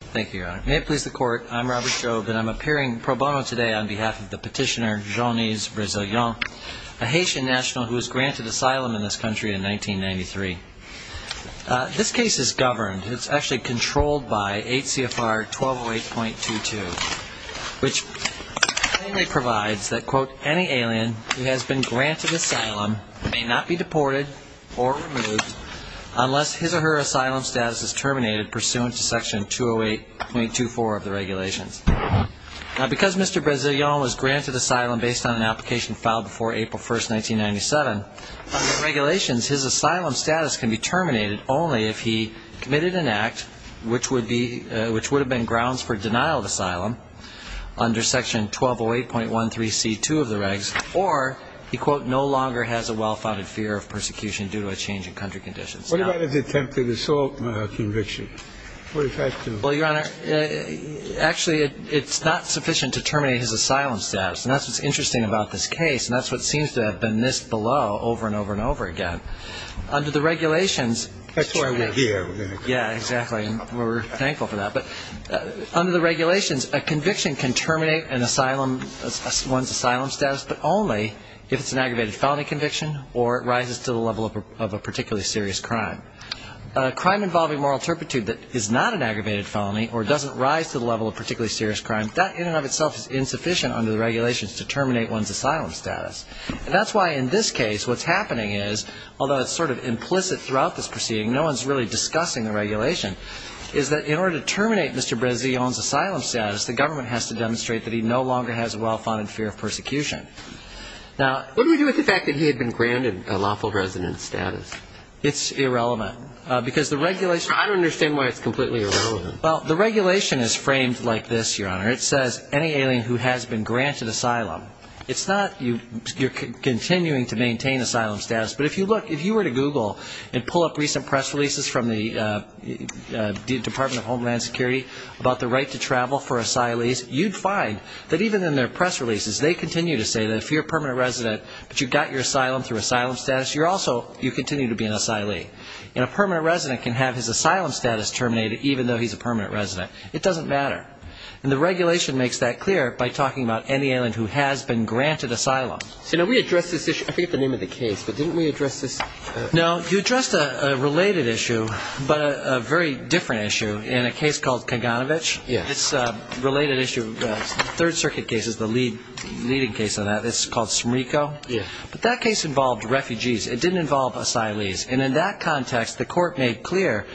Thank you, your honor. May it please the court, I'm Robert Jobe and I'm appearing pro bono today on behalf of the petitioner Jeanise Vrezelien, a Haitian national who was granted asylum in this country in 1993. This case is governed, it's actually controlled by 8 CFR 1208.22, which plainly provides that, quote, any alien who has been granted asylum may not be deported or removed unless his or her asylum status is terminated pursuant to section 208.24 of the regulations. Now, because Mr. Vrezelien was granted asylum based on an application filed before April 1, 1997, under the regulations, his asylum status can be terminated only if he committed an act which would be, which would have been grounds for denial of asylum under section 1208.13c2 of the regs, or he, quote, no longer has a well-founded fear of persecution due to a change in country conditions. What about his attempted assault conviction? Well, your honor, actually, it's not sufficient to terminate his asylum status, and that's what's interesting about this case, and that's what seems to have been missed below over and over and over again. That's why we're here. Although it's sort of implicit throughout this proceeding, no one's really discussing the regulation, is that in order to terminate Mr. Vrezelien's asylum status, the government has to demonstrate that he no longer has a well-founded fear of persecution. Now, what do we do with the fact that he had been granted a lawful resident status? It's irrelevant, because the regulation I don't understand why it's completely irrelevant. Well, the regulation is framed like this, your honor. It says, any alien who has been granted asylum. It's not, you're continuing to maintain asylum status, but if you look, if you were to Google and pull up recent press releases from the Department of Homeland Security about the right to travel for asylees, you'd find that even in their press releases, they continue to say that if you're a permanent resident, but you got your asylum through asylum status, you're also, you continue to be an asylee. And a permanent resident can have his asylum status terminated, even though he's a permanent resident. It doesn't matter. And the regulation makes that clear by talking about any alien who has been granted asylum. You know, we addressed this issue, I forget the name of the case, but didn't we address this? No, you addressed a related issue, but a very different issue, in a case called Kaganovich. Yes. This related issue, third circuit case is the leading case on that. It's called Smrico. Yes. But that case involved refugees. It didn't involve asylees. And in that context, the court made clear,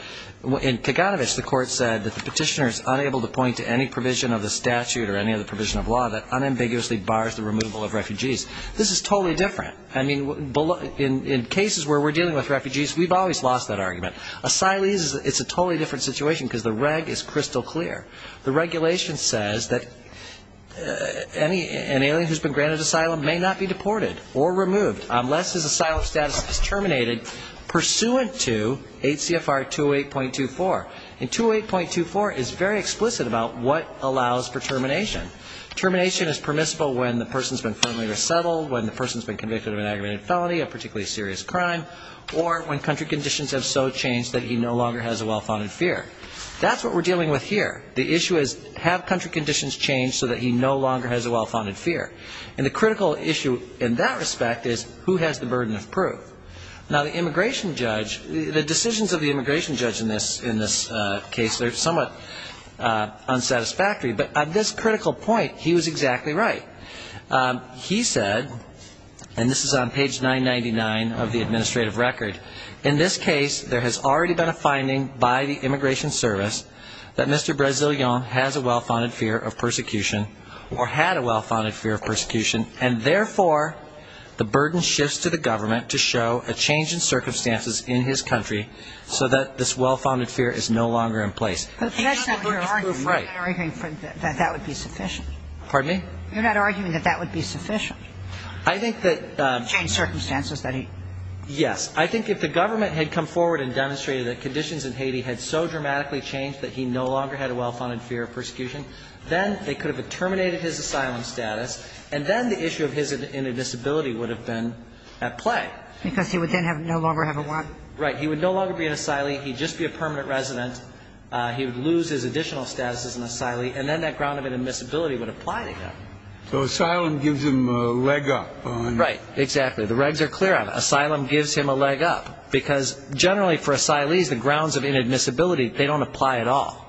in Kaganovich, the court said that the petitioner is unable to point to any provision of the statute or any other provision of law that unambiguously bars the removal of refugees. This is totally different. I mean, in cases where we're dealing with refugees, we've always lost that argument. Asylees, it's a totally different situation because the reg is crystal clear. The regulation says that an alien who's been granted asylum may not be deported or removed unless his asylum status is terminated pursuant to HCFR 208.24. And 208.24 is very explicit about what allows for termination. Termination is permissible when the person's been firmly resettled, when the person's been convicted of an aggravated felony, a particularly serious crime, or when country conditions have so changed that he no longer has a well-founded fear. That's what we're dealing with here. The issue is, have country conditions changed so that he no longer has a well-founded fear? And the critical issue in that respect is, who has the burden of proof? Now, the immigration judge, the decisions of the immigration judge in this case, they're somewhat unsatisfactory. But at this critical point, he was exactly right. He said, and this is on page 999 of the administrative record, In this case, there has already been a finding by the immigration service that Mr. Brasileon has a well-founded fear of persecution or had a well-founded fear of persecution, and therefore the burden shifts to the government to show a change in circumstances in his country so that this well-founded fear is no longer in place. But that's not what you're arguing. Right. You're not arguing that that would be sufficient. Pardon me? You're not arguing that that would be sufficient. I think that – To change circumstances that he – Yes. I think if the government had come forward and demonstrated that conditions in Haiti had so dramatically changed that he no longer had a well-founded fear of persecution, then they could have terminated his asylum status, and then the issue of his disability would have been at play. Because he would then no longer have a warrant. He would no longer be an asylee. He'd just be a permanent resident. He would lose his additional status as an asylee, and then that ground of inadmissibility would apply to him. So asylum gives him a leg up on – Right. Exactly. The regs are clear on it. Asylum gives him a leg up. Because generally for asylees, the grounds of inadmissibility, they don't apply at all.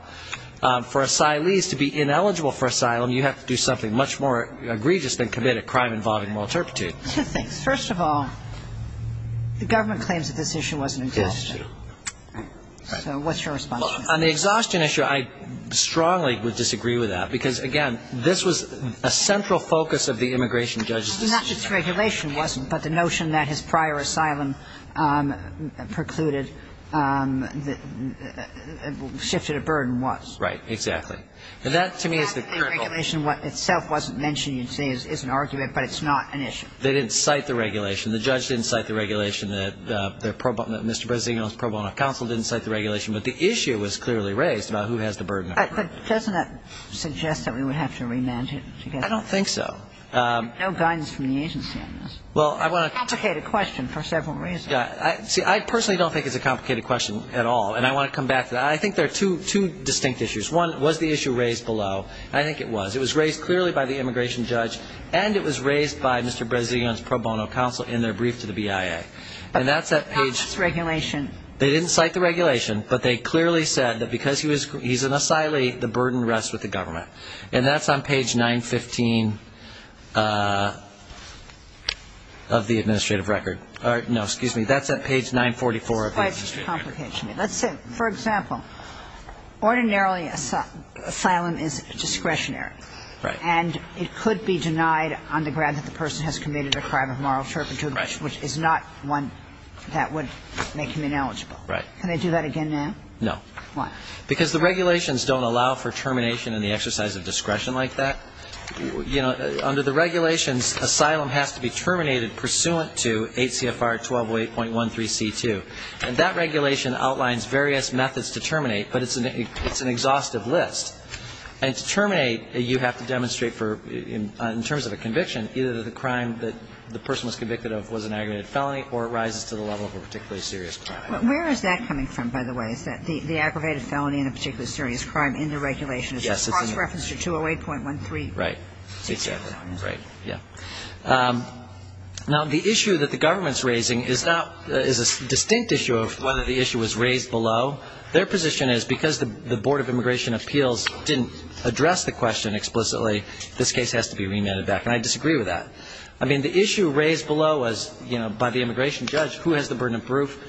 For asylees to be ineligible for asylum, you have to do something much more egregious than commit a crime involving moral turpitude. Thanks. First of all, the government claims that this issue wasn't in question. Right. So what's your response? On the exhaustion issue, I strongly would disagree with that. Because, again, this was a central focus of the immigration judge's decision. Not that the regulation wasn't, but the notion that his prior asylum precluded – shifted a burden was. Right. Exactly. And that, to me, is the critical – The fact that the regulation itself wasn't mentioned, you'd say, is an argument, but it's not an issue. They didn't cite the regulation. The judge didn't cite the regulation. Mr. Bresignon's pro bono counsel didn't cite the regulation. But the issue was clearly raised about who has the burden. But doesn't that suggest that we would have to remand him? I don't think so. No guidance from the agency on this. Well, I want to – It's a complicated question for several reasons. See, I personally don't think it's a complicated question at all. And I want to come back to that. I think there are two distinct issues. One, was the issue raised below? I think it was. It was raised clearly by the immigration judge. And it was raised by Mr. Bresignon's pro bono counsel in their brief to the BIA. And that's at page – Not this regulation. They didn't cite the regulation. But they clearly said that because he's an asylee, the burden rests with the government. And that's on page 915 of the administrative record. No, excuse me. That's at page 944 of the administrative record. It's quite complicated. Let's say, for example, ordinarily asylum is discretionary. Right. And it could be denied on the grounds that the person has committed a crime of moral turpitude. Right. Which is not one that would make him ineligible. Right. Can they do that again now? No. Why? Because the regulations don't allow for termination in the exercise of discretion like that. You know, under the regulations, asylum has to be terminated pursuant to 8 CFR 1208.13C2. And that regulation outlines various methods to terminate, but it's an exhaustive list. And to terminate, you have to demonstrate for, in terms of a conviction, either the crime that the person was convicted of was an aggravated felony or it rises to the level of a particularly serious crime. Where is that coming from, by the way? Is that the aggravated felony and a particularly serious crime in the regulation? Yes. It's cross-referenced to 208.13. Right. Exactly. Right. Yeah. Now, the issue that the government's raising is not — is a distinct issue of whether the issue was raised below. Their position is because the Board of Immigration Appeals didn't address the question explicitly, this case has to be remanded back. And I disagree with that. I mean, the issue raised below was, you know, by the immigration judge, who has the burden of proof?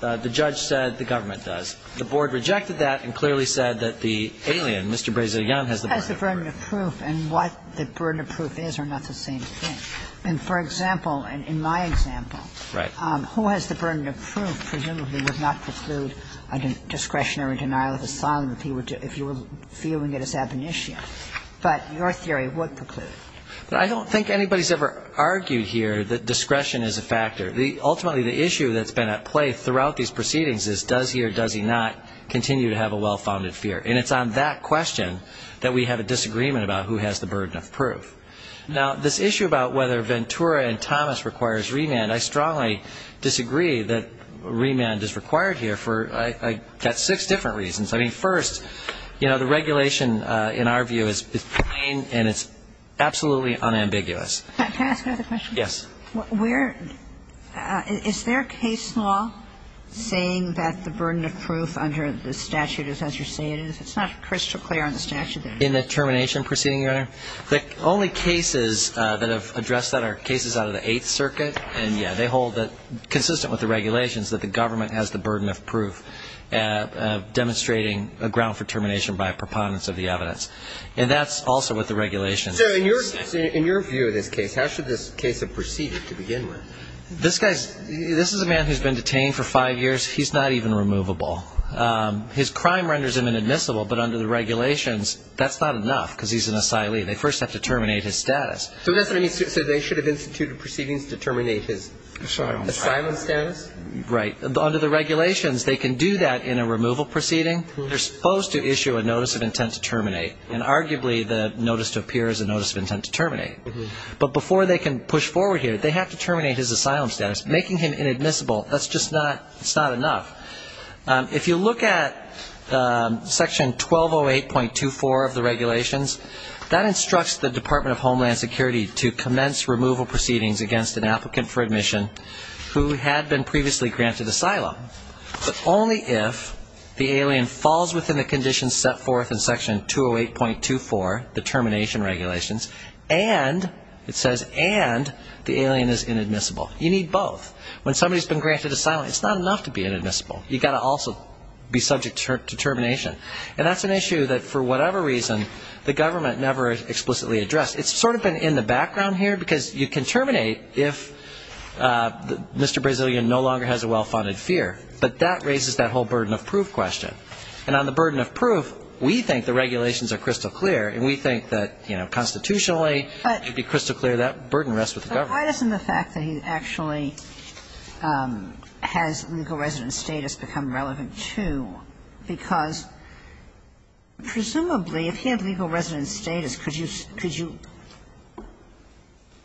The judge said the government does. The board rejected that and clearly said that the alien, Mr. Brazilian, has the burden of proof. The burden of proof and what the burden of proof is are not the same thing. And for example, in my example, who has the burden of proof presumably would not preclude a discretionary denial of asylum if you were viewing it as ab initio. But your theory would preclude. But I don't think anybody's ever argued here that discretion is a factor. Ultimately, the issue that's been at play throughout these proceedings is does he or does he not continue to have a well-founded fear. And it's on that question that we have a disagreement about who has the burden of proof. Now, this issue about whether Ventura and Thomas requires remand, I strongly disagree that remand is required here for I got six different reasons. I mean, first, you know, the regulation in our view is plain and it's absolutely unambiguous. Can I ask another question? Yes. Where – is there case law saying that the burden of proof under the statute of limitations, as you say it is – it's not crystal clear on the statute there. In the termination proceeding, Your Honor, the only cases that have addressed that are cases out of the Eighth Circuit. And, yeah, they hold that consistent with the regulations that the government has the burden of proof demonstrating a ground for termination by a preponderance of the evidence. And that's also what the regulations say. So in your view of this case, how should this case have proceeded to begin with? This guy's – this is a man who's been detained for five years. He's not even removable. His crime renders him inadmissible. But under the regulations, that's not enough because he's an asylee. They first have to terminate his status. So that's what I mean. So they should have instituted proceedings to terminate his asylum status? Right. Under the regulations, they can do that in a removal proceeding. They're supposed to issue a notice of intent to terminate. And arguably, the notice to appear is a notice of intent to terminate. But before they can push forward here, they have to terminate his asylum status. Making him inadmissible, that's just not – it's not enough. If you look at Section 1208.24 of the regulations, that instructs the Department of Homeland Security to commence removal proceedings against an applicant for admission who had been previously granted asylum, but only if the alien falls within the conditions set forth in Section 208.24, the termination regulations, and – it says and – the alien is inadmissible. You need both. When somebody's been granted asylum, it's not enough to be inadmissible. You've got to also be subject to termination. And that's an issue that, for whatever reason, the government never explicitly addressed. It's sort of been in the background here, because you can terminate if Mr. Brazilian no longer has a well-funded fear. But that raises that whole burden of proof question. And on the burden of proof, we think the regulations are crystal clear, and we think that constitutionally it would be crystal clear that burden rests with the government. Kagan. Why doesn't the fact that he actually has legal residence status become relevant, too? Because presumably, if he had legal residence status, could you – could you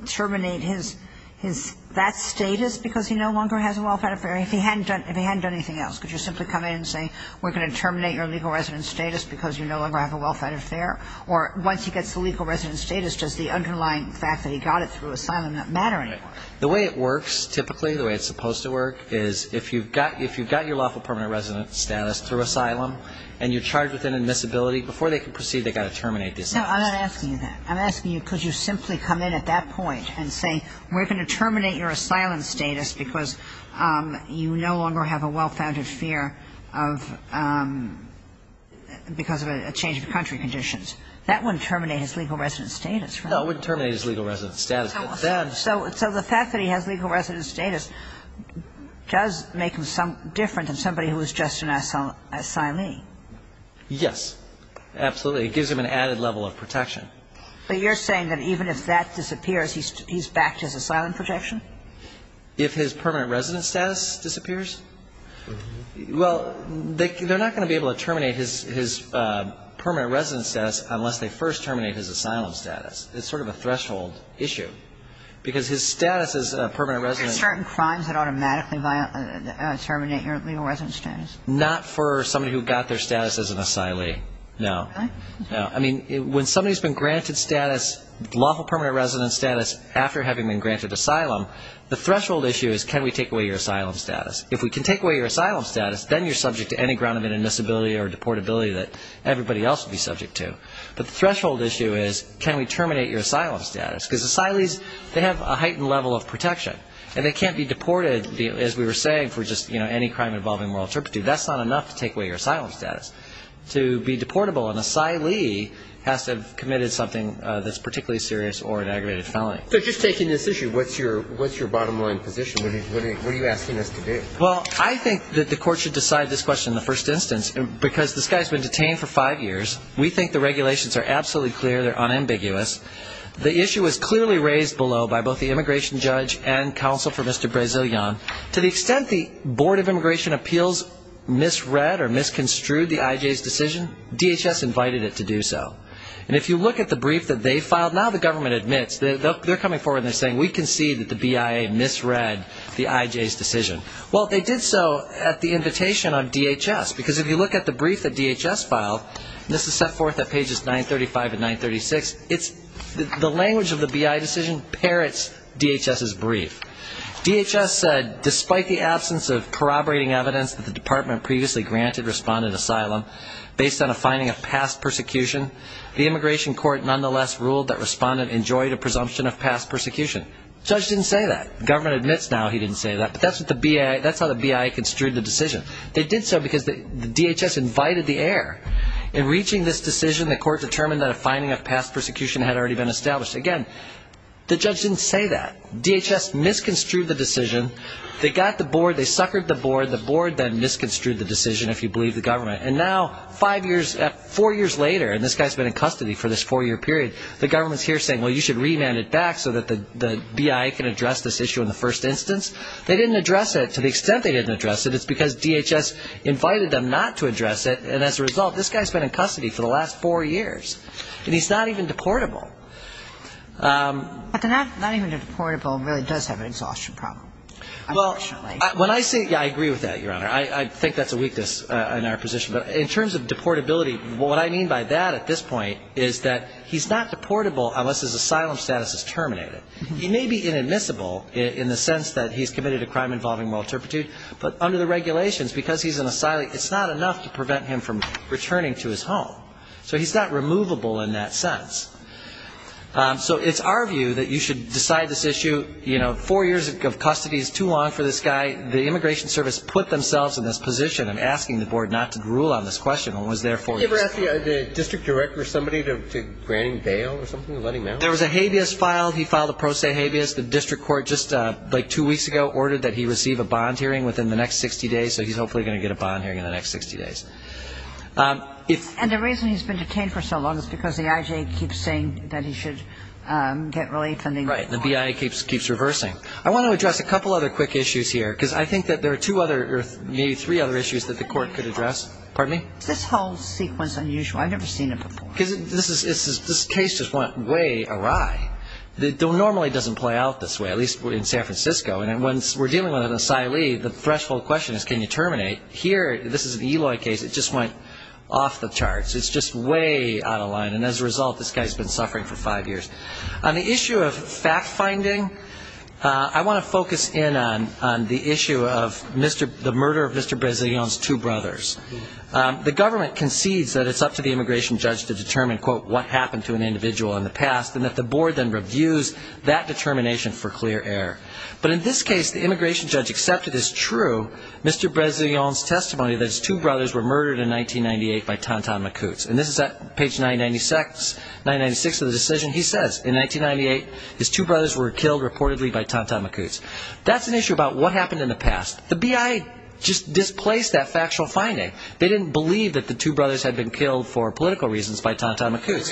terminate his – his – that status because he no longer has a well-fed affair if he hadn't done – if he hadn't done anything else? Could you simply come in and say we're going to terminate your legal residence status because you no longer have a well-fed affair? Or once he gets the legal residence status, does the underlying fact that he got it through asylum not matter anymore? Right. The way it works, typically, the way it's supposed to work, is if you've got – if you've got your lawful permanent residence status through asylum and you're charged with inadmissibility, before they can proceed, they've got to terminate this status. No, I'm not asking you that. I'm asking you could you simply come in at that point and say we're going to terminate your asylum status because you no longer have a well-founded fear of – because of a change of country condition. That wouldn't terminate his legal residence status, right? No, it wouldn't terminate his legal residence status. So the fact that he has legal residence status does make him different than somebody who is just an asylee. Yes, absolutely. It gives him an added level of protection. But you're saying that even if that disappears, he's – he's back to his asylum protection? If his permanent residence status disappears? Well, they're not going to be able to terminate his – his permanent residence status unless they first terminate his asylum status. It's sort of a threshold issue because his status as a permanent resident There's certain crimes that automatically terminate your legal residence status. Not for somebody who got their status as an asylee. No. Really? No. I mean, when somebody's been granted status, lawful permanent residence status, after having been granted asylum, the threshold issue is can we take away your asylum status? If we can take away your asylum status, then you're subject to any ground of inadmissibility or deportability that everybody else would be subject to. But the threshold issue is can we terminate your asylum status? Because asylees, they have a heightened level of protection. And they can't be deported, as we were saying, for just any crime involving moral turpitude. That's not enough to take away your asylum status. To be deportable, an asylee has to have committed something that's particularly serious or an aggravated felony. So just taking this issue, what's your – what's your bottom line position? What are you asking us to do? Well, I think that the court should decide this question in the first instance because this guy's been detained for five years. We think the regulations are absolutely clear. They're unambiguous. The issue was clearly raised below by both the immigration judge and counsel for Mr. Brazilian. To the extent the Board of Immigration Appeals misread or misconstrued the IJ's decision, DHS invited it to do so. And if you look at the brief that they filed, now the government admits. They're coming forward and they're saying, we concede that the BIA misread the IJ's decision. Well, they did so at the invitation of DHS. Because if you look at the brief that DHS filed, and this is set forth at pages 935 and 936, the language of the BIA decision parrots DHS's brief. DHS said, despite the absence of corroborating evidence that the department previously granted respondent asylum based on a finding of past persecution, the immigration court nonetheless ruled that respondent enjoyed a presumption of past persecution. The judge didn't say that. The government admits now he didn't say that. But that's how the BIA construed the decision. They did so because DHS invited the heir. In reaching this decision, the court determined that a finding of past persecution had already been established. Again, the judge didn't say that. DHS misconstrued the decision. They got the board. They suckered the board. The board then misconstrued the decision, if you believe the government. And now five years, four years later, and this guy's been in custody for this four-year period, the government's here saying, well, you should remand it back so that the BIA can address this issue in the first instance. They didn't address it to the extent they didn't address it. It's because DHS invited them not to address it. And as a result, this guy's been in custody for the last four years. And he's not even deportable. But the not even deportable really does have an exhaustion problem, unfortunately. When I say, yeah, I agree with that, Your Honor. I think that's a weakness in our position. But in terms of deportability, what I mean by that at this point is that he's not deportable unless his asylum status is terminated. He may be inadmissible in the sense that he's committed a crime involving moral turpitude. But under the regulations, because he's an asylum, it's not enough to prevent him from returning to his home. So he's not removable in that sense. So it's our view that you should decide this issue. You know, four years of custody is too long for this guy. The Immigration Service put themselves in this position in asking the board not to rule on this question and was there four years. Did they ever ask the district director or somebody to grant him bail or something, letting him out? There was a habeas filed. He filed a pro se habeas. The district court just like two weeks ago ordered that he receive a bond hearing within the next 60 days. So he's hopefully going to get a bond hearing in the next 60 days. And the reason he's been detained for so long is because the IJ keeps saying that he should get relief. Right, and the BIA keeps reversing. I want to address a couple other quick issues here, because I think that there are two other or maybe three other issues that the court could address. Pardon me? Is this whole sequence unusual? I've never seen it before. Because this case just went way awry. It normally doesn't play out this way, at least in San Francisco. And when we're dealing with an asylee, the threshold question is can you terminate? Here, this is an Eloy case. It just went off the charts. It's just way out of line. And as a result, this guy's been suffering for five years. On the issue of fact-finding, I want to focus in on the issue of the murder of Mr. Bresilhon's two brothers. The government concedes that it's up to the immigration judge to determine, quote, what happened to an individual in the past and that the board then reviews that determination for clear error. But in this case, the immigration judge accepted as true Mr. Bresilhon's testimony that his two brothers were murdered in 1998 by Tonton Macoutes. And this is at page 996 of the decision. He says, in 1998, his two brothers were killed reportedly by Tonton Macoutes. That's an issue about what happened in the past. The BIA just displaced that factual finding. They didn't believe that the two brothers had been killed for political reasons by Tonton Macoutes.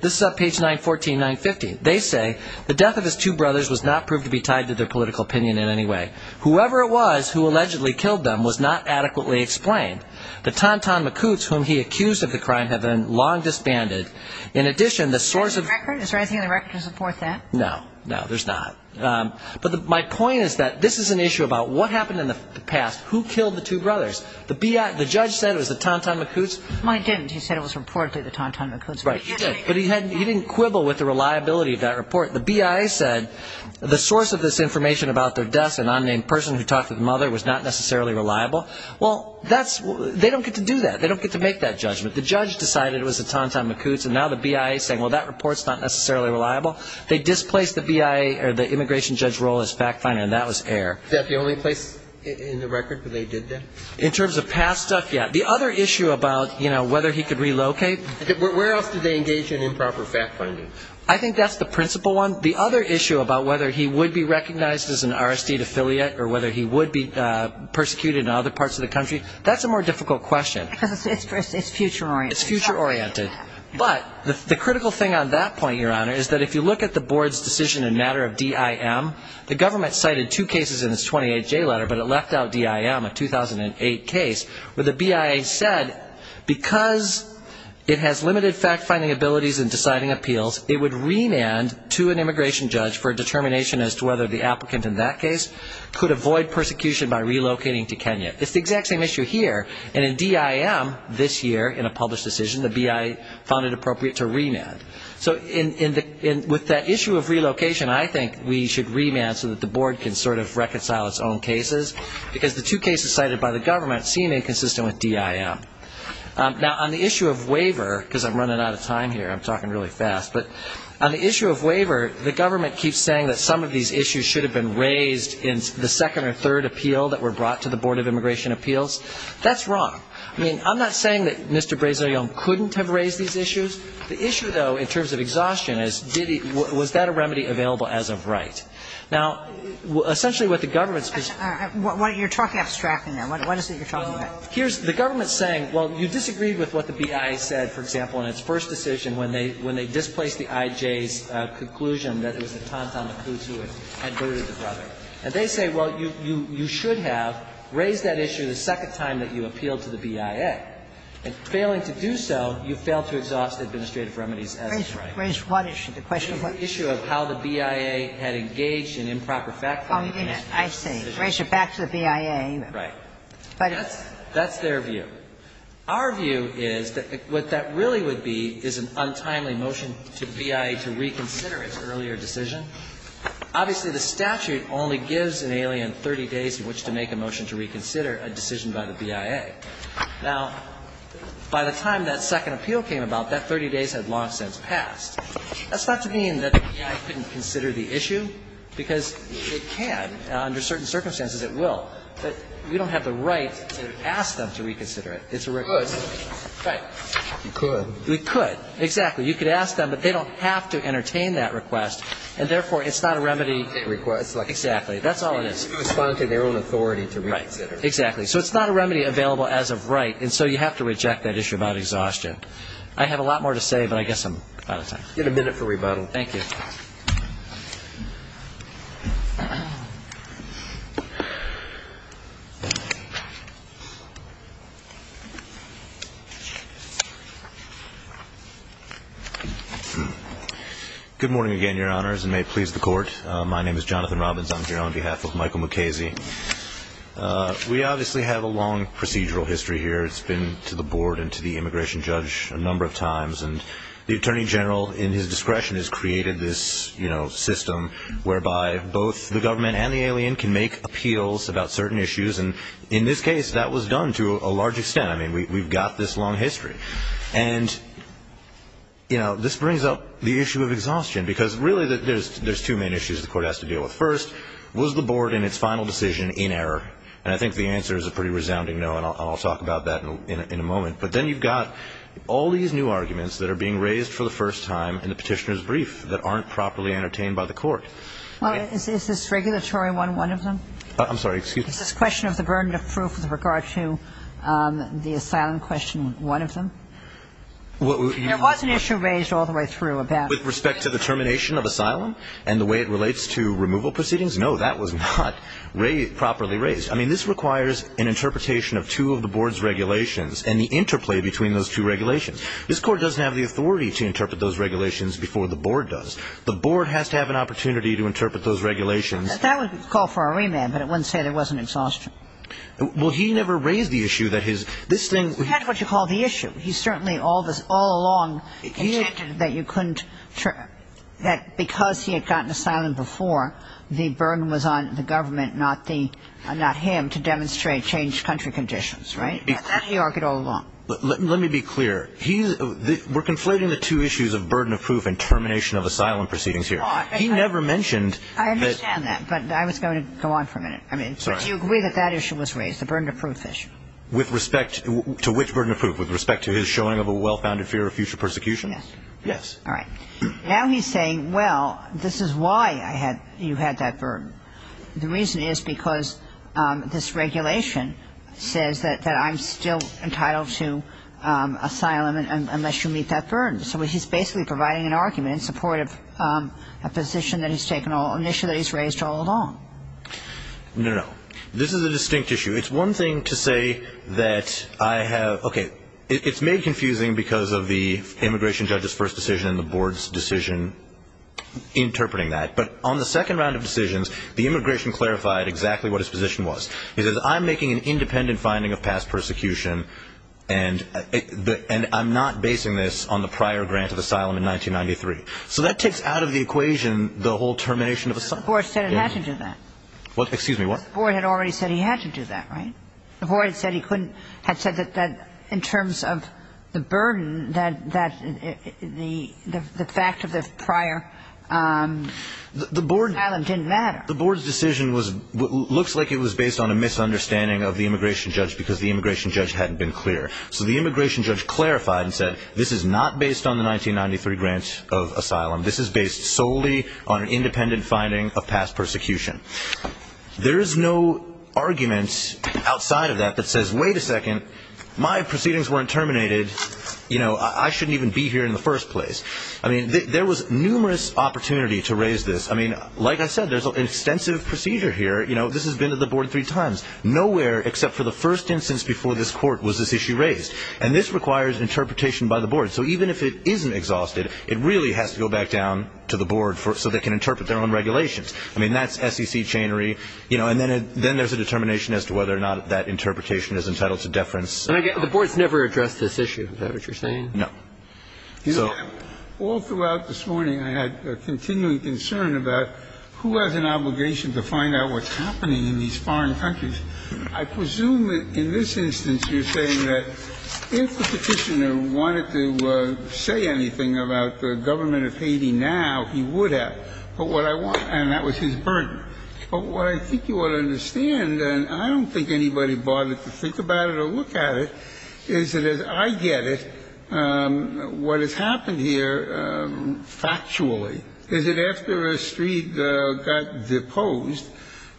This is at page 914, 915. They say the death of his two brothers was not proved to be tied to their political opinion in any way. Whoever it was who allegedly killed them was not adequately explained. But Tonton Macoutes, whom he accused of the crime, had been long disbanded. In addition, the source of the record. Is there anything in the record to support that? No. No, there's not. But my point is that this is an issue about what happened in the past. Who killed the two brothers? The BIA, the judge said it was the Tonton Macoutes. Well, he didn't. He said it was reportedly the Tonton Macoutes. Right. But he didn't quibble with the reliability of that report. The BIA said the source of this information about their deaths, an unnamed person who talked to the mother, was not necessarily reliable. Well, they don't get to do that. They don't get to make that judgment. The judge decided it was the Tonton Macoutes, and now the BIA is saying, well, that report is not necessarily reliable. They displaced the BIA or the immigration judge's role as fact finder, and that was air. Is that the only place in the record where they did that? In terms of past stuff, yeah. The other issue about, you know, whether he could relocate. Where else did they engage in improper fact finding? I think that's the principal one. The other issue about whether he would be recognized as an RSD affiliate or whether he would be persecuted in other parts of the country, that's a more difficult question. It's future oriented. It's future oriented. But the critical thing on that point, Your Honor, is that if you look at the board's decision in matter of DIM, the government cited two cases in its 28-J letter, but it left out DIM, a 2008 case where the BIA said, because it has limited fact finding abilities in deciding appeals, it would remand to an immigration judge for a determination as to whether the applicant in that case could avoid persecution by relocating to Kenya. It's the exact same issue here. And in DIM this year in a published decision, the BIA found it appropriate to remand. So with that issue of relocation, I think we should remand so that the board can sort of reconcile its own cases because the two cases cited by the government seem inconsistent with DIM. Now, on the issue of waiver, because I'm running out of time here, I'm talking really fast, but on the issue of waiver, the government keeps saying that some of these issues should have been raised in the second or third appeal that were brought to the Board of Immigration Appeals. That's wrong. I mean, I'm not saying that Mr. Brazell Young couldn't have raised these issues. The issue, though, in terms of exhaustion is, did he – was that a remedy available as of right? Now, essentially what the government's – Kagan. You're talking abstractly now. What is it you're talking about? Well, here's – the government's saying, well, you disagreed with what the BIA said, for example, in its first decision when they displaced the IJ's conclusion that it was the Tantan Makutsu who had murdered the brother. And they say, well, you should have raised that issue the second time that you appealed to the BIA, and failing to do so, you failed to exhaust administrative remedies as of right. Raised what issue? The question of what? The issue of how the BIA had engaged in improper fact-finding. Oh, I see. Raised it back to the BIA. Right. That's their view. Our view is that what that really would be is an untimely motion to the BIA to reconsider its earlier decision. Obviously, the statute only gives an alien 30 days in which to make a motion to reconsider a decision by the BIA. Now, by the time that second appeal came about, that 30 days had long since passed. That's not to mean that the BIA couldn't consider the issue, because it can. Under certain circumstances, it will. But we don't have the right to ask them to reconsider it. It's a request. We could. We could. We could. Exactly. You could ask them, but they don't have to entertain that request. And, therefore, it's not a remedy. It's a request. Exactly. That's all it is. They can respond to their own authority to reconsider. Right. Exactly. So it's not a remedy available as of right. And so you have to reject that issue about exhaustion. I have a lot more to say, but I guess I'm out of time. You have a minute for rebuttal. Thank you. Good morning again, Your Honors, and may it please the Court. My name is Jonathan Robbins. I'm here on behalf of Michael Mukasey. We obviously have a long procedural history here. It's been to the Board and to the immigration judge a number of times. And the Attorney General, in his discretion, has created this system whereby both the government and the alien can make appeals about certain issues. And in this case, that was done to a large extent. I mean, we've got this long history. And, you know, this brings up the issue of exhaustion because, really, there's two main issues the Court has to deal with. First, was the Board in its final decision in error? And I think the answer is a pretty resounding no, and I'll talk about that in a moment. But then you've got all these new arguments that are being raised for the first time in the petitioner's brief that aren't properly entertained by the Court. Well, is this regulatory one one of them? I'm sorry, excuse me? Is this question of the burden of proof with regard to the asylum question one of them? There was an issue raised all the way through about the termination of asylum and the way it relates to removal proceedings. No, that was not properly raised. I mean, this requires an interpretation of two of the Board's regulations and the interplay between those two regulations. This Court doesn't have the authority to interpret those regulations before the Board does. The Board has to have an opportunity to interpret those regulations. That would call for a remand, but it wouldn't say there wasn't exhaustion. Well, he never raised the issue that his – this thing – He had what you call the issue. He certainly all along contended that you couldn't – that because he had gotten asylum before, the burden was on the government, not him, to demonstrate changed country conditions, right? That he argued all along. Let me be clear. We're conflating the two issues of burden of proof and termination of asylum proceedings here. He never mentioned that – I understand that, but I was going to go on for a minute. I mean, do you agree that that issue was raised, the burden of proof issue? With respect to which burden of proof? With respect to his showing of a well-founded fear of future persecution? Yes. All right. Now he's saying, well, this is why I had – you had that burden. The reason is because this regulation says that I'm still entitled to asylum unless you meet that burden. So he's basically providing an argument in support of a position that he's taken – an issue that he's raised all along. No, no, no. This is a distinct issue. It's one thing to say that I have – okay. It's made confusing because of the immigration judge's first decision and the board's decision interpreting that. But on the second round of decisions, the immigration clarified exactly what his position was. He says, I'm making an independent finding of past persecution, and I'm not basing this on the prior grant of asylum in 1993. So that takes out of the equation the whole termination of asylum. The board said it had to do that. What? Excuse me, what? The board had already said he had to do that, right? The board had said he couldn't – had said that in terms of the burden, that the fact of the prior asylum didn't matter. The board's decision was – looks like it was based on a misunderstanding of the immigration judge because the immigration judge hadn't been clear. So the immigration judge clarified and said, this is not based on the 1993 grant of asylum. This is based solely on an independent finding of past persecution. There is no argument outside of that that says, wait a second, my proceedings weren't terminated. You know, I shouldn't even be here in the first place. I mean, there was numerous opportunity to raise this. I mean, like I said, there's an extensive procedure here. You know, this has been to the board three times. Nowhere except for the first instance before this Court was this issue raised. And this requires interpretation by the board. So even if it isn't exhausted, it really has to go back down to the board so they can interpret their own regulations. I mean, that's SEC chainery. You know, and then there's a determination as to whether or not that interpretation is entitled to deference. The board's never addressed this issue. Is that what you're saying? No. You know, all throughout this morning I had a continuing concern about who has an obligation to find out what's happening in these foreign countries. I presume in this instance you're saying that if the Petitioner wanted to say anything about the government of Haiti now, he would have. But what I want to say, and that was his burden. But what I think you ought to understand, and I don't think anybody bothered to think about it or look at it, is that as I get it, what has happened here factually is that after a street got deposed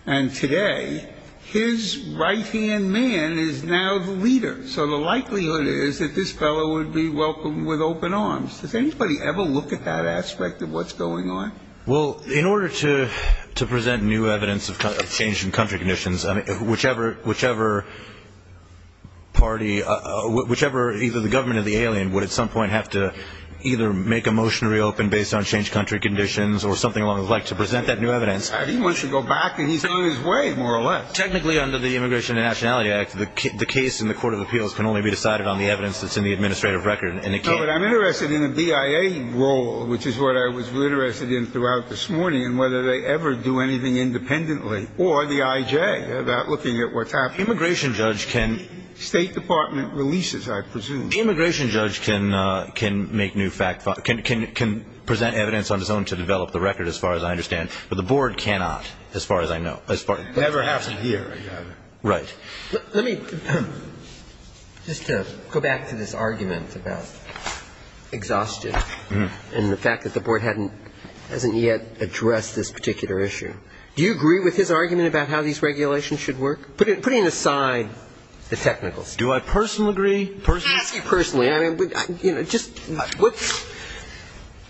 and today, his right-hand man is now the leader. So the likelihood is that this fellow would be welcomed with open arms. Does anybody ever look at that aspect of what's going on? Well, in order to present new evidence of change in country conditions, whichever either the government or the alien would at some point have to either make a motion to reopen based on changed country conditions or something along the like to present that new evidence. He wants to go back, and he's on his way, more or less. Technically, under the Immigration and Nationality Act, the case in the Court of Appeals can only be decided on the evidence that's in the administrative record. No, but I'm interested in the DIA role, which is what I was interested in throughout this morning, and whether they ever do anything independently, or the I.J. about looking at what's happening. Immigration judge can — State Department releases, I presume. Immigration judge can make new fact — can present evidence on his own to develop the record, as far as I understand. But the Board cannot, as far as I know. Never has it here, I gather. Right. Let me just go back to this argument about exhaustion and the fact that the Board hasn't yet addressed this particular issue. Do you agree with his argument about how these regulations should work, putting aside the technicals? Do I personally agree? Ask him personally. I mean, you know, just —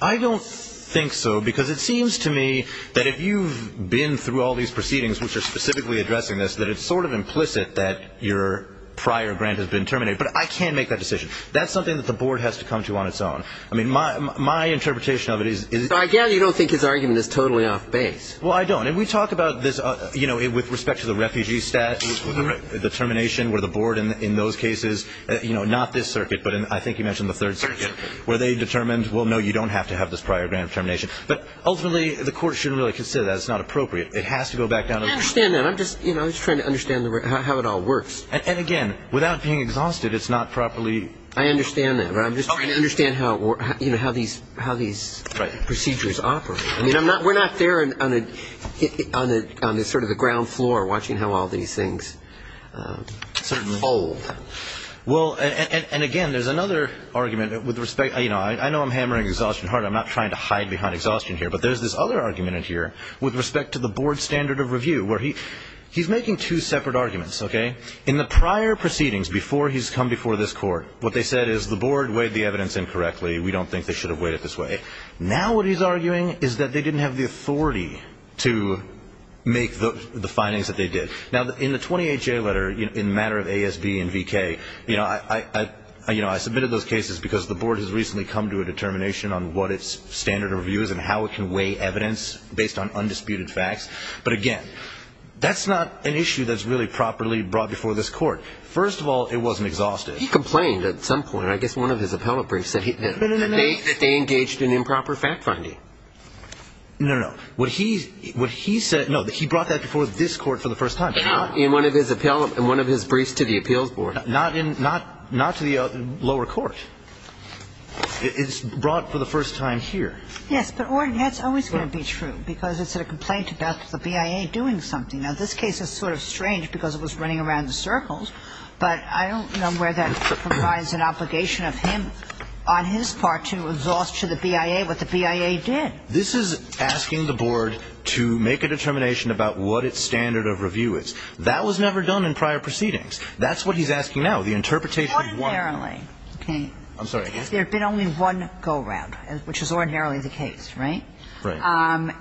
I don't think so, because it seems to me that if you've been through all these proceedings, which are specifically addressing this, that it's sort of implicit that your prior grant has been terminated. But I can make that decision. That's something that the Board has to come to on its own. I mean, my interpretation of it is — But I gather you don't think his argument is totally off base. Well, I don't. And we talk about this, you know, with respect to the refugee stat, the termination where the Board in those cases — you know, not this circuit, but I think you mentioned the Third Circuit — where they determined, well, no, you don't have to have this prior grant termination. But ultimately, the Court shouldn't really consider that. It's not appropriate. It has to go back down to the — I understand that. I'm just trying to understand how it all works. And again, without being exhausted, it's not properly — I understand that. But I'm just trying to understand how these procedures operate. I mean, we're not there on sort of the ground floor watching how all these things unfold. Well, and again, there's another argument with respect — you know, I know I'm hammering exhaustion hard. I'm not trying to hide behind exhaustion here. But there's this other argument in here with respect to the Board's standard of review where he — he's making two separate arguments, okay? In the prior proceedings, before he's come before this Court, what they said is the Board weighed the evidence incorrectly. We don't think they should have weighed it this way. Now what he's arguing is that they didn't have the authority to make the findings that they did. Now, in the 28-J letter, in matter of ASB and VK, you know, I — you know, I submitted those cases because the Board has recently come to a determination on what its standard of review is and how it can weigh evidence based on undisputed facts. But again, that's not an issue that's really properly brought before this Court. First of all, it wasn't exhaustive. He complained at some point, I guess one of his appellate briefs, that he — No, no, no. — that they engaged in improper fact-finding. No, no, no. What he said — no, he brought that before this Court for the first time. In one of his appellate — in one of his briefs to the Appeals Board. Not in — not to the lower court. It's brought for the first time here. Yes, but, Orrin, that's always going to be true because it's a complaint about the BIA doing something. Now, this case is sort of strange because it was running around in circles, but I don't know where that provides an obligation of him on his part to exhaust to the BIA what the BIA did. This is asking the Board to make a determination about what its standard of review is. That was never done in prior proceedings. That's what he's asking now, the interpretation of one. Ordinarily. Okay. I'm sorry. If there had been only one go-around, which was ordinarily the case, right? Right.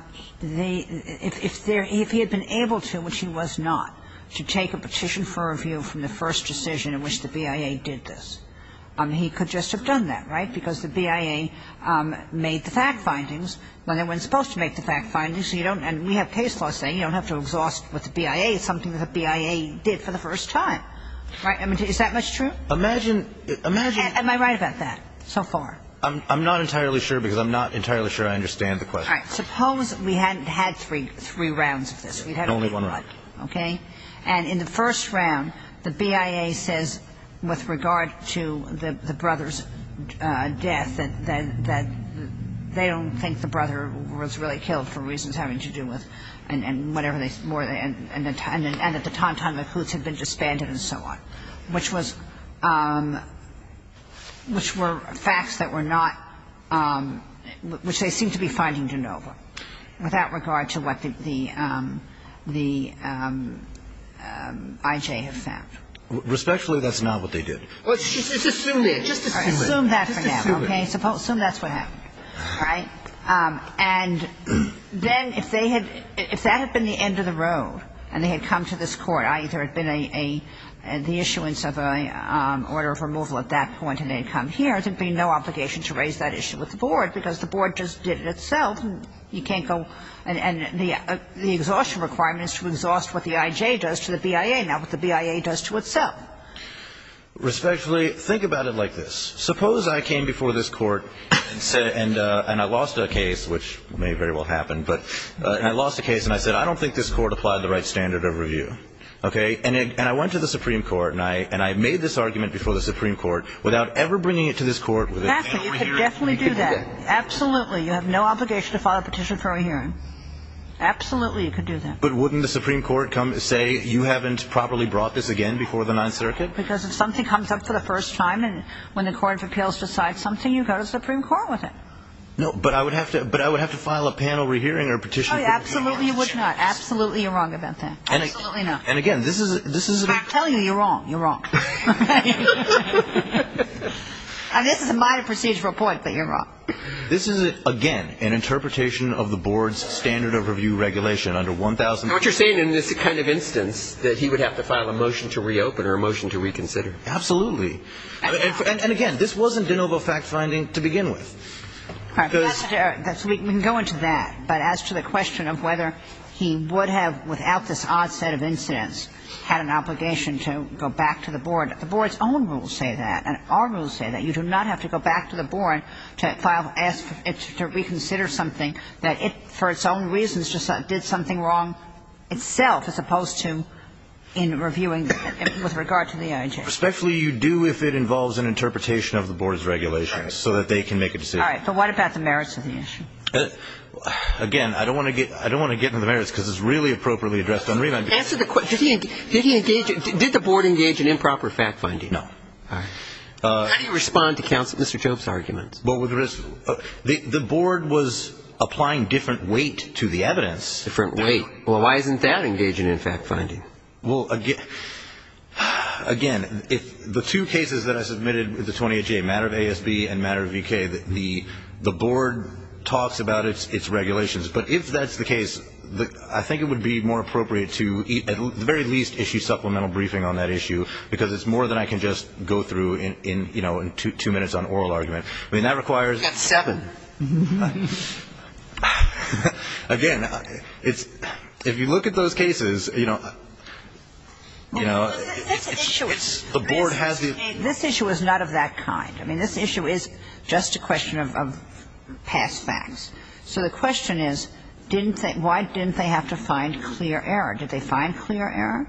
If there — if he had been able to, which he was not, to take a petition for review from the first decision in which the BIA did this, he could just have done that, right, because the BIA made the fact-findings when they weren't supposed to make the fact-findings, so you don't — and we have case law saying you don't have to exhaust what the BIA — something that the BIA did for the first time, right? I mean, is that much true? Imagine — imagine — Am I right about that so far? I'm not entirely sure because I'm not entirely sure I understand the question. All right. Suppose we hadn't had three — three rounds of this. We'd had only one. Okay. And in the first round, the BIA says with regard to the brother's death that they don't think the brother was really killed for reasons having to do with — and whatever they — more than — and at the time, time of Hoots had been disbanded and so on, which was — which were facts that were not — which they seem to be finding de novo with that regard to what the — the IJ have found. Respectfully, that's not what they did. Well, just assume it. Just assume it. Assume that for now, okay? Just assume it. Assume that's what happened, right? And then if they had — if that had been the end of the road and they had come to this court, either it had been a — the issuance of an order of removal at that point and they had come here, there would be no obligation to raise that issue with the board because the board just did it itself and you can't go — and the exhaustion requirement is to exhaust what the IJ does to the BIA, not what the BIA does to itself. Respectfully, think about it like this. Suppose I came before this court and said — and I lost a case, which may very well happen, but — and I lost a case and I said, I don't think this court applied the right standard of review, okay? And it — and I went to the Supreme Court and I — and I made this argument before the Supreme Court without ever bringing it to this court. Exactly. You could definitely do that. You could do that. Absolutely. You have no obligation to file a petition for a re-hearing. Absolutely you could do that. But wouldn't the Supreme Court come and say, you haven't properly brought this again before the Ninth Circuit? Because if something comes up for the first time and when the court of appeals decides something, you go to the Supreme Court with it. No, but I would have to — but I would have to file a panel re-hearing or petition for a re-hearing. Absolutely you're wrong about that. Absolutely not. And again, this is — this is — I'm telling you, you're wrong. You're wrong. Okay? And this is a minor procedural point, but you're wrong. This is, again, an interpretation of the board's standard of review regulation under 1000 — And what you're saying in this kind of instance, that he would have to file a motion to reopen or a motion to reconsider. Absolutely. And again, this wasn't de novo fact-finding to begin with. All right. We can go into that. But as to the question of whether he would have, without this odd set of incidents, had an obligation to go back to the board, the board's own rules say that, and our rules say that. You do not have to go back to the board to file — ask it to reconsider something that it, for its own reasons, did something wrong itself, as opposed to in reviewing with regard to the IJ. Respectfully, you do if it involves an interpretation of the board's regulations so that they can make a decision. All right. But what about the merits of the issue? Again, I don't want to get into the merits because it's really appropriately addressed on remand. Answer the question. Did he engage — did the board engage in improper fact-finding? No. All right. How do you respond to Mr. Job's argument? Well, the board was applying different weight to the evidence. Different weight. Well, why isn't that engaging in fact-finding? Well, again, if the two cases that I submitted with the 28J, matter of ASB and matter of VK, the board talks about its regulations. But if that's the case, I think it would be more appropriate to at the very least issue supplemental briefing on that issue because it's more than I can just go through in, you know, two minutes on oral argument. I mean, that requires — That's seven. Again, it's — if you look at those cases, you know, it's — Well, this issue is — The board has the — This issue is not of that kind. I mean, this issue is just a question of past facts. So the question is, didn't they — why didn't they have to find clear error? Did they find clear error?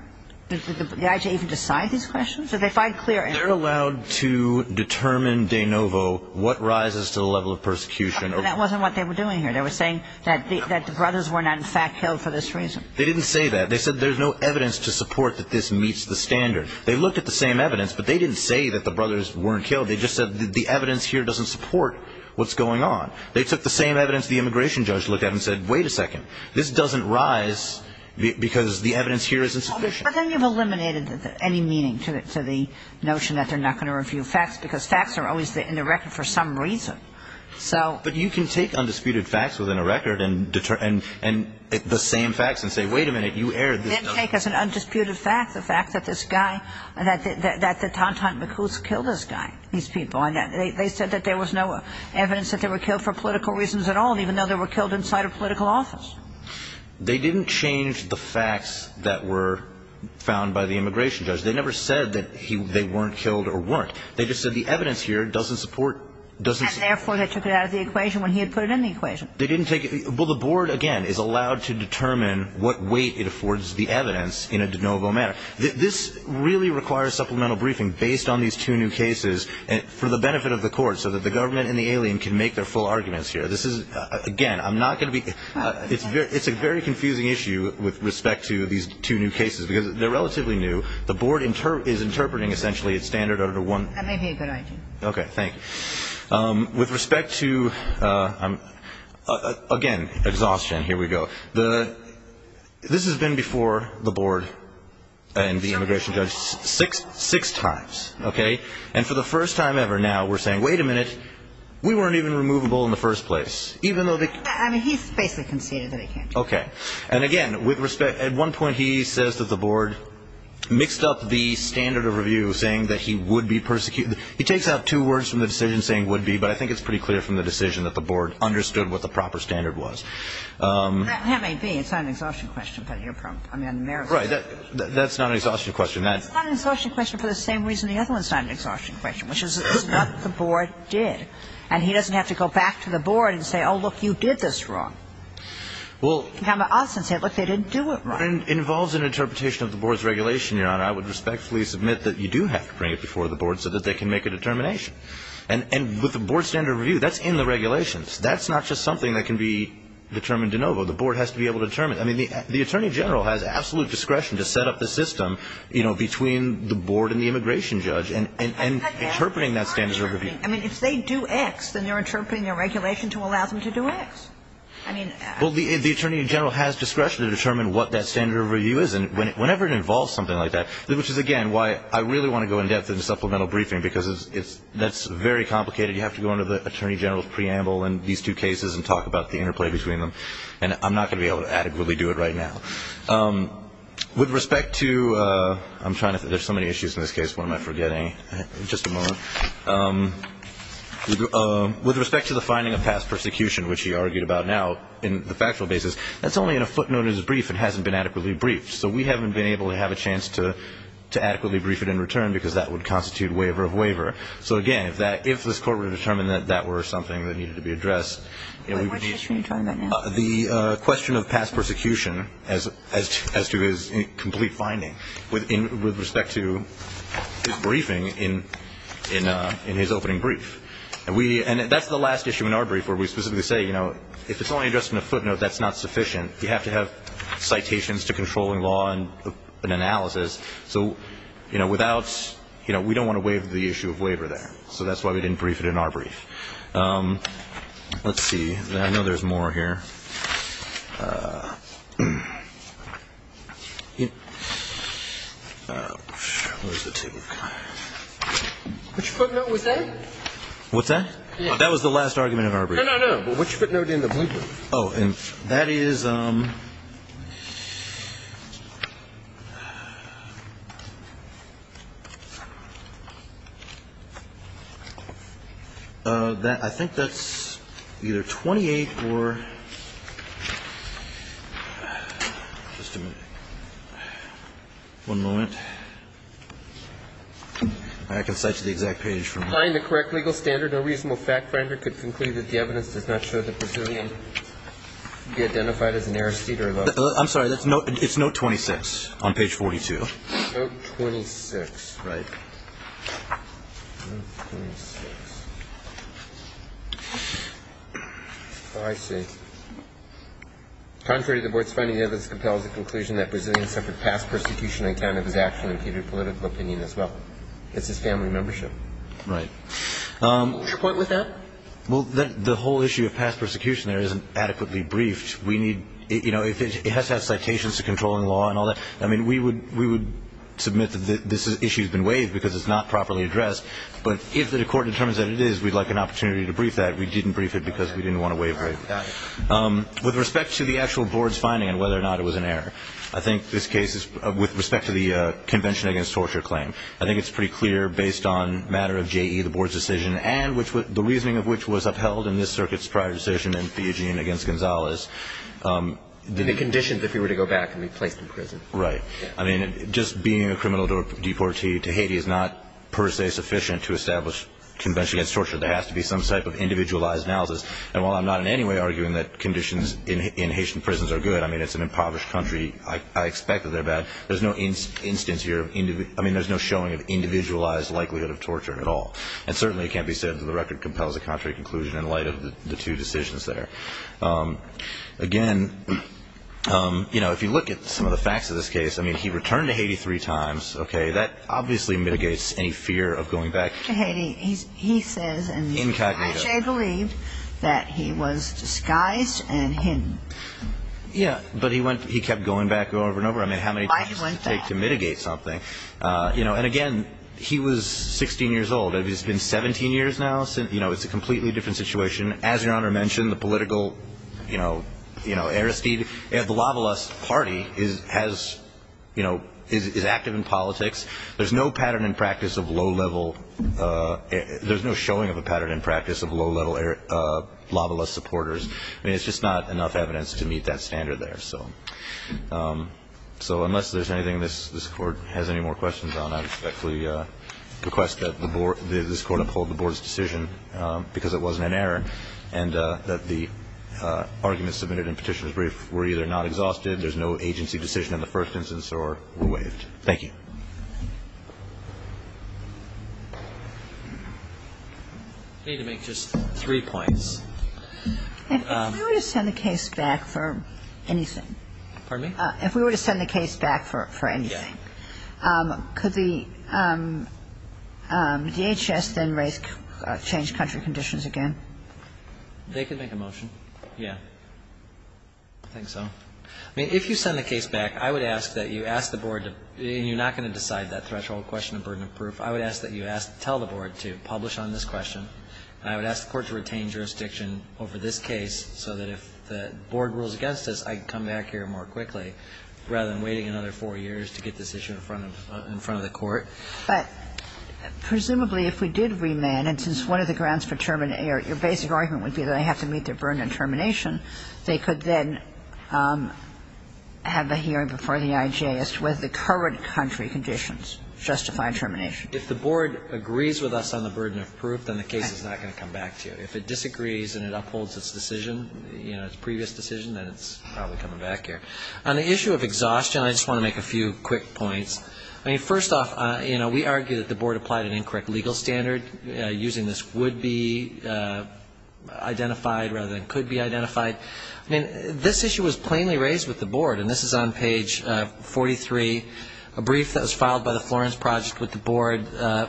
Did the IJ even decide these questions? Did they find clear error? They're allowed to determine de novo what rises to the level of persecution. But that wasn't what they were doing here. They were saying that the brothers were not, in fact, killed for this reason. They didn't say that. They said there's no evidence to support that this meets the standard. They looked at the same evidence, but they didn't say that the brothers weren't killed. They just said the evidence here doesn't support what's going on. They took the same evidence the immigration judge looked at and said, wait a second, this doesn't rise because the evidence here is insufficient. But then you've eliminated any meaning to the notion that they're not going to review facts because facts are always in the record for some reason. But you can take undisputed facts within a record and the same facts and say, wait a minute, you erred. You can't take as an undisputed fact the fact that this guy, that the Tantan Makus killed this guy, these people. And they said that there was no evidence that they were killed for political reasons at all, even though they were killed inside a political office. They didn't change the facts that were found by the immigration judge. They never said that they weren't killed or weren't. They just said the evidence here doesn't support. And therefore they took it out of the equation when he had put it in the equation. They didn't take it. Well, the board, again, is allowed to determine what weight it affords the evidence in a de novo manner. This really requires supplemental briefing based on these two new cases for the benefit of the court so that the government and the alien can make their full arguments here. This is, again, I'm not going to be. It's a very confusing issue with respect to these two new cases because they're relatively new. The board is interpreting, essentially, it's standard under one. That may be a good idea. Okay, thank you. With respect to, again, exhaustion, here we go. This has been before the board and the immigration judge six times, okay? And for the first time ever now we're saying, wait a minute, we weren't even removable in the first place. Okay. And, again, with respect, at one point he says that the board mixed up the standard of review, saying that he would be persecuted. He takes out two words from the decision saying would be, but I think it's pretty clear from the decision that the board understood what the proper standard was. That may be. It's not an exhaustion question, but you're probably, I mean, America. Right. That's not an exhaustion question. It's not an exhaustion question for the same reason the other one's not an exhaustion question, which is it's not the board did. And he doesn't have to go back to the board and say, oh, look, you did this wrong. Well. Now Austin said, look, they didn't do it right. It involves an interpretation of the board's regulation, Your Honor. I would respectfully submit that you do have to bring it before the board so that they can make a determination. And with the board standard of review, that's in the regulations. That's not just something that can be determined de novo. The board has to be able to determine it. I mean, the Attorney General has absolute discretion to set up the system, you know, between the board and the immigration judge and interpreting that standard of review. I mean, if they do X, then they're interpreting their regulation to allow them to do X. I mean. Well, the Attorney General has discretion to determine what that standard of review is. And whenever it involves something like that, which is, again, why I really want to go in depth in the supplemental briefing because that's very complicated. You have to go under the Attorney General's preamble in these two cases and talk about the interplay between them. And I'm not going to be able to adequately do it right now. With respect to – I'm trying to – there's so many issues in this case. What am I forgetting? Just a moment. With respect to the finding of past persecution, which he argued about now in the factual basis, that's only in a footnote of his brief. It hasn't been adequately briefed. So we haven't been able to have a chance to adequately brief it in return because that would constitute waiver of waiver. So, again, if that – if this Court were to determine that that were something that needed to be addressed, you know, we would need to – Wait. What's the issue you're talking about now? The question of past persecution as to his complete finding. With respect to his briefing in his opening brief. And we – and that's the last issue in our brief where we specifically say, you know, if it's only addressed in a footnote, that's not sufficient. You have to have citations to controlling law and analysis. So, you know, without – you know, we don't want to waive the issue of waiver there. So that's why we didn't brief it in our brief. Let's see. I know there's more here. Which footnote was that? What's that? That was the last argument of our brief. No, no, no. Which footnote in the blue book? Oh, and that is – I think that's either 28 or – just a minute. One moment. I can cite you the exact page from that. If you find the correct legal standard, no reasonable fact finder could conclude that the evidence does not show the Brazilian to be identified as an heiress to either of those. I'm sorry. It's note 26 on page 42. Note 26. Right. Note 26. Oh, I see. Contrary to the board's finding, the evidence compels the conclusion that Brazilian suffered past persecution on account of his action impeded political opinion as well. It's his family membership. Right. What's your point with that? Well, the whole issue of past persecution there isn't adequately briefed. We need – you know, it has to have citations to controlling law and all that. I mean, we would submit that this issue has been waived because it's not properly addressed, but if the court determines that it is, we'd like an opportunity to brief that. We didn't brief it because we didn't want to waive it. Got it. With respect to the actual board's finding and whether or not it was an error, I think this case is – with respect to the Convention Against Torture claim, I think it's pretty clear based on a matter of J.E., the board's decision, and the reasoning of which was upheld in this circuit's prior decision in Fijian against Gonzalez. The conditions if he were to go back and be placed in prison. Right. I mean, just being a criminal deportee to Haiti is not per se sufficient to establish Convention Against Torture. There has to be some type of individualized analysis. And while I'm not in any way arguing that conditions in Haitian prisons are good, I mean, it's an impoverished country. I expect that they're bad. There's no instance here of – I mean, there's no showing of individualized likelihood of torture at all. And certainly it can't be said that the record compels a contrary conclusion in light of the two decisions there. Again, you know, if you look at some of the facts of this case, I mean, he returned to Haiti three times. Okay. That obviously mitigates any fear of going back. To Haiti. He says in the – Incognito. – which I believe that he was disguised and hidden. Yeah. But he went – he kept going back over and over. I mean, how many – Why he went back? – takes to mitigate something. You know, and again, he was 16 years old. It's been 17 years now. You know, it's a completely different situation. As Your Honor mentioned, the political, you know – you know, Aristide. The Lavalas party is – has, you know – is active in politics. There's no pattern in practice of low-level – there's no showing of a pattern in practice of low-level Lavalas supporters. I mean, it's just not enough evidence to meet that standard there. So unless there's anything this Court has any more questions on, I respectfully request that the Board – that this Court uphold the Board's decision, because it wasn't an error, and that the arguments submitted in Petitioner's brief were either not exhausted, there's no agency decision in the first instance, or were waived. Thank you. I need to make just three points. First, I would ask that the Board uphold the Board's decision. Third, I would ask that the Board uphold the Board's decision. If we were to send the case back for anything. Pardon me? If we were to send the case back for anything. Yeah. Could the DHS then raise – change country conditions again? They can make a motion. Yeah. I think so. I mean, if you send the case back, I would ask that you ask the Board to – and you're not going to decide that threshold question of burden of proof. I would ask that you tell the Board to publish on this question, and I would ask the Court to retain jurisdiction over this case so that if the Board rules against us, I can come back here more quickly, rather than waiting another four years to get this issue in front of the Court. But presumably, if we did remand, and since one of the grounds for term and error your basic argument would be that they have to meet their burden of termination, they could then have a hearing before the IJ as to whether the current country conditions justify termination. If the Board agrees with us on the burden of proof, then the case is not going to come back to you. If it disagrees and it upholds its decision, you know, its previous decision, then it's probably coming back here. On the issue of exhaustion, I just want to make a few quick points. I mean, first off, you know, we argue that the Board applied an incorrect legal standard using this would be identified rather than could be identified. I mean, this issue was plainly raised with the Board, and this is on page 43, a brief that was filed by the Florence Project with the Board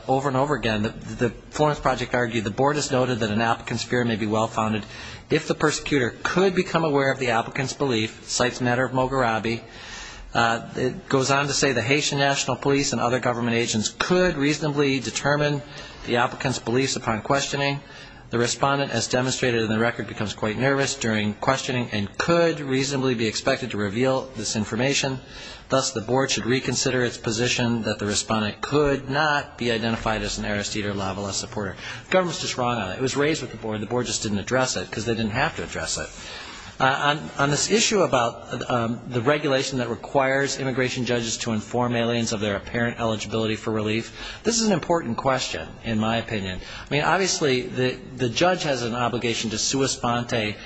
over and over again. The Florence Project argued the Board has noted that an applicant's fear may be well-founded if the persecutor could become aware of the applicant's belief, cites the matter of Mogherabi. It goes on to say the Haitian National Police and other government agents could reasonably determine the applicant's beliefs upon questioning. The respondent, as demonstrated in the record, becomes quite nervous during questioning and could reasonably be expected to reveal this information. Thus, the Board should reconsider its position that the respondent could not be identified as an Aristide or Lavala supporter. The government's just wrong on that. It was raised with the Board. The Board just didn't address it because they didn't have to address it. On this issue about the regulation that requires immigration judges to inform aliens of their apparent eligibility for relief, this is an important question, in my opinion. I mean, obviously, the judge has an obligation to sua sponte,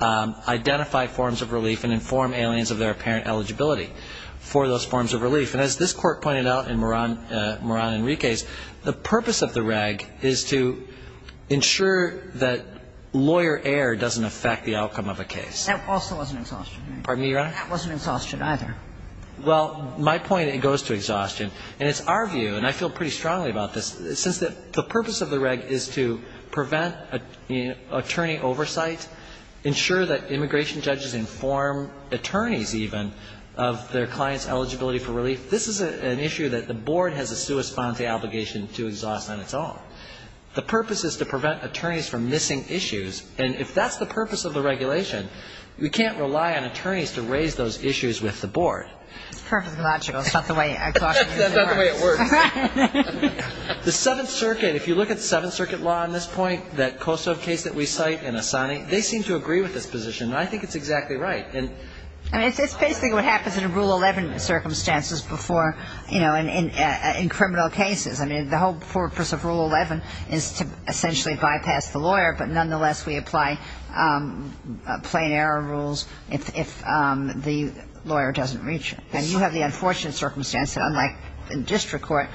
identify forms of relief and inform aliens of their apparent eligibility for those forms of relief. And as this Court pointed out in Moran Enriquez, the purpose of the reg is to ensure that lawyer error doesn't affect the outcome of a case. That also wasn't exhaustive. Pardon me, Your Honor? That wasn't exhaustive either. Well, my point, it goes to exhaustion. And it's our view, and I feel pretty strongly about this, since the purpose of the reg is to prevent attorney oversight, ensure that immigration judges inform attorneys even of their clients' eligibility for relief, this is an issue that the Board has a sua sponte obligation to exhaust on its own. The purpose is to prevent attorneys from missing issues. And if that's the purpose of the regulation, we can't rely on attorneys to raise those issues with the Board. It's perfectly logical. It's not the way I thought it was going to work. That's not the way it works. Right. The Seventh Circuit, if you look at Seventh Circuit law on this point, that Kosovo case that we cite and Asani, they seem to agree with this position. And I think it's exactly right. I mean, it's basically what happens in Rule 11 circumstances before, you know, I mean, the whole purpose of Rule 11 is to essentially bypass the lawyer, but nonetheless, we apply plain error rules if the lawyer doesn't reach them. And you have the unfortunate circumstance that unlike in district court,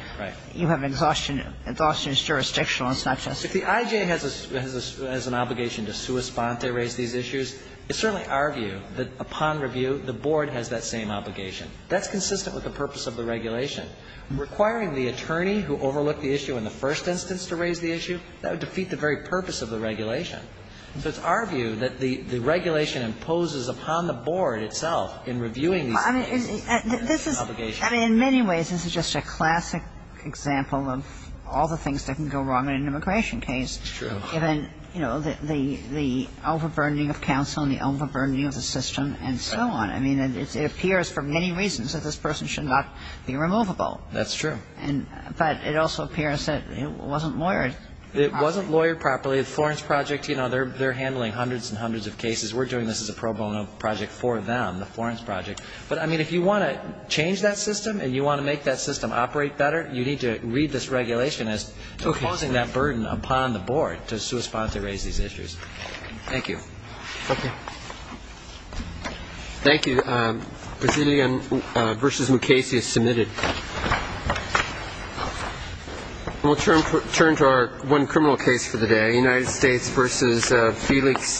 you have exhaustion. Exhaustion is jurisdictional. It's not just. If the IJ has an obligation to sua sponte, raise these issues, it's certainly our view that upon review, the Board has that same obligation. That's consistent with the purpose of the regulation. Requiring the attorney who overlooked the issue in the first instance to raise the issue, that would defeat the very purpose of the regulation. So it's our view that the regulation imposes upon the Board itself in reviewing these cases. I mean, in many ways, this is just a classic example of all the things that can go wrong in an immigration case. It's true. Given, you know, the overburdening of counsel and the overburdening of the system and so on. I mean, it appears for many reasons that this person should not be removable. That's true. But it also appears that it wasn't lawyered properly. It wasn't lawyered properly. The Florence Project, you know, they're handling hundreds and hundreds of cases. We're doing this as a pro bono project for them, the Florence Project. But, I mean, if you want to change that system and you want to make that system operate better, you need to read this regulation as imposing that burden upon the Board to sua sponte, raise these issues. Thank you. Thank you. Thank you. Resilien versus Mukasey is submitted. We'll turn to our one criminal case for the day, United States versus Felix Tayabas.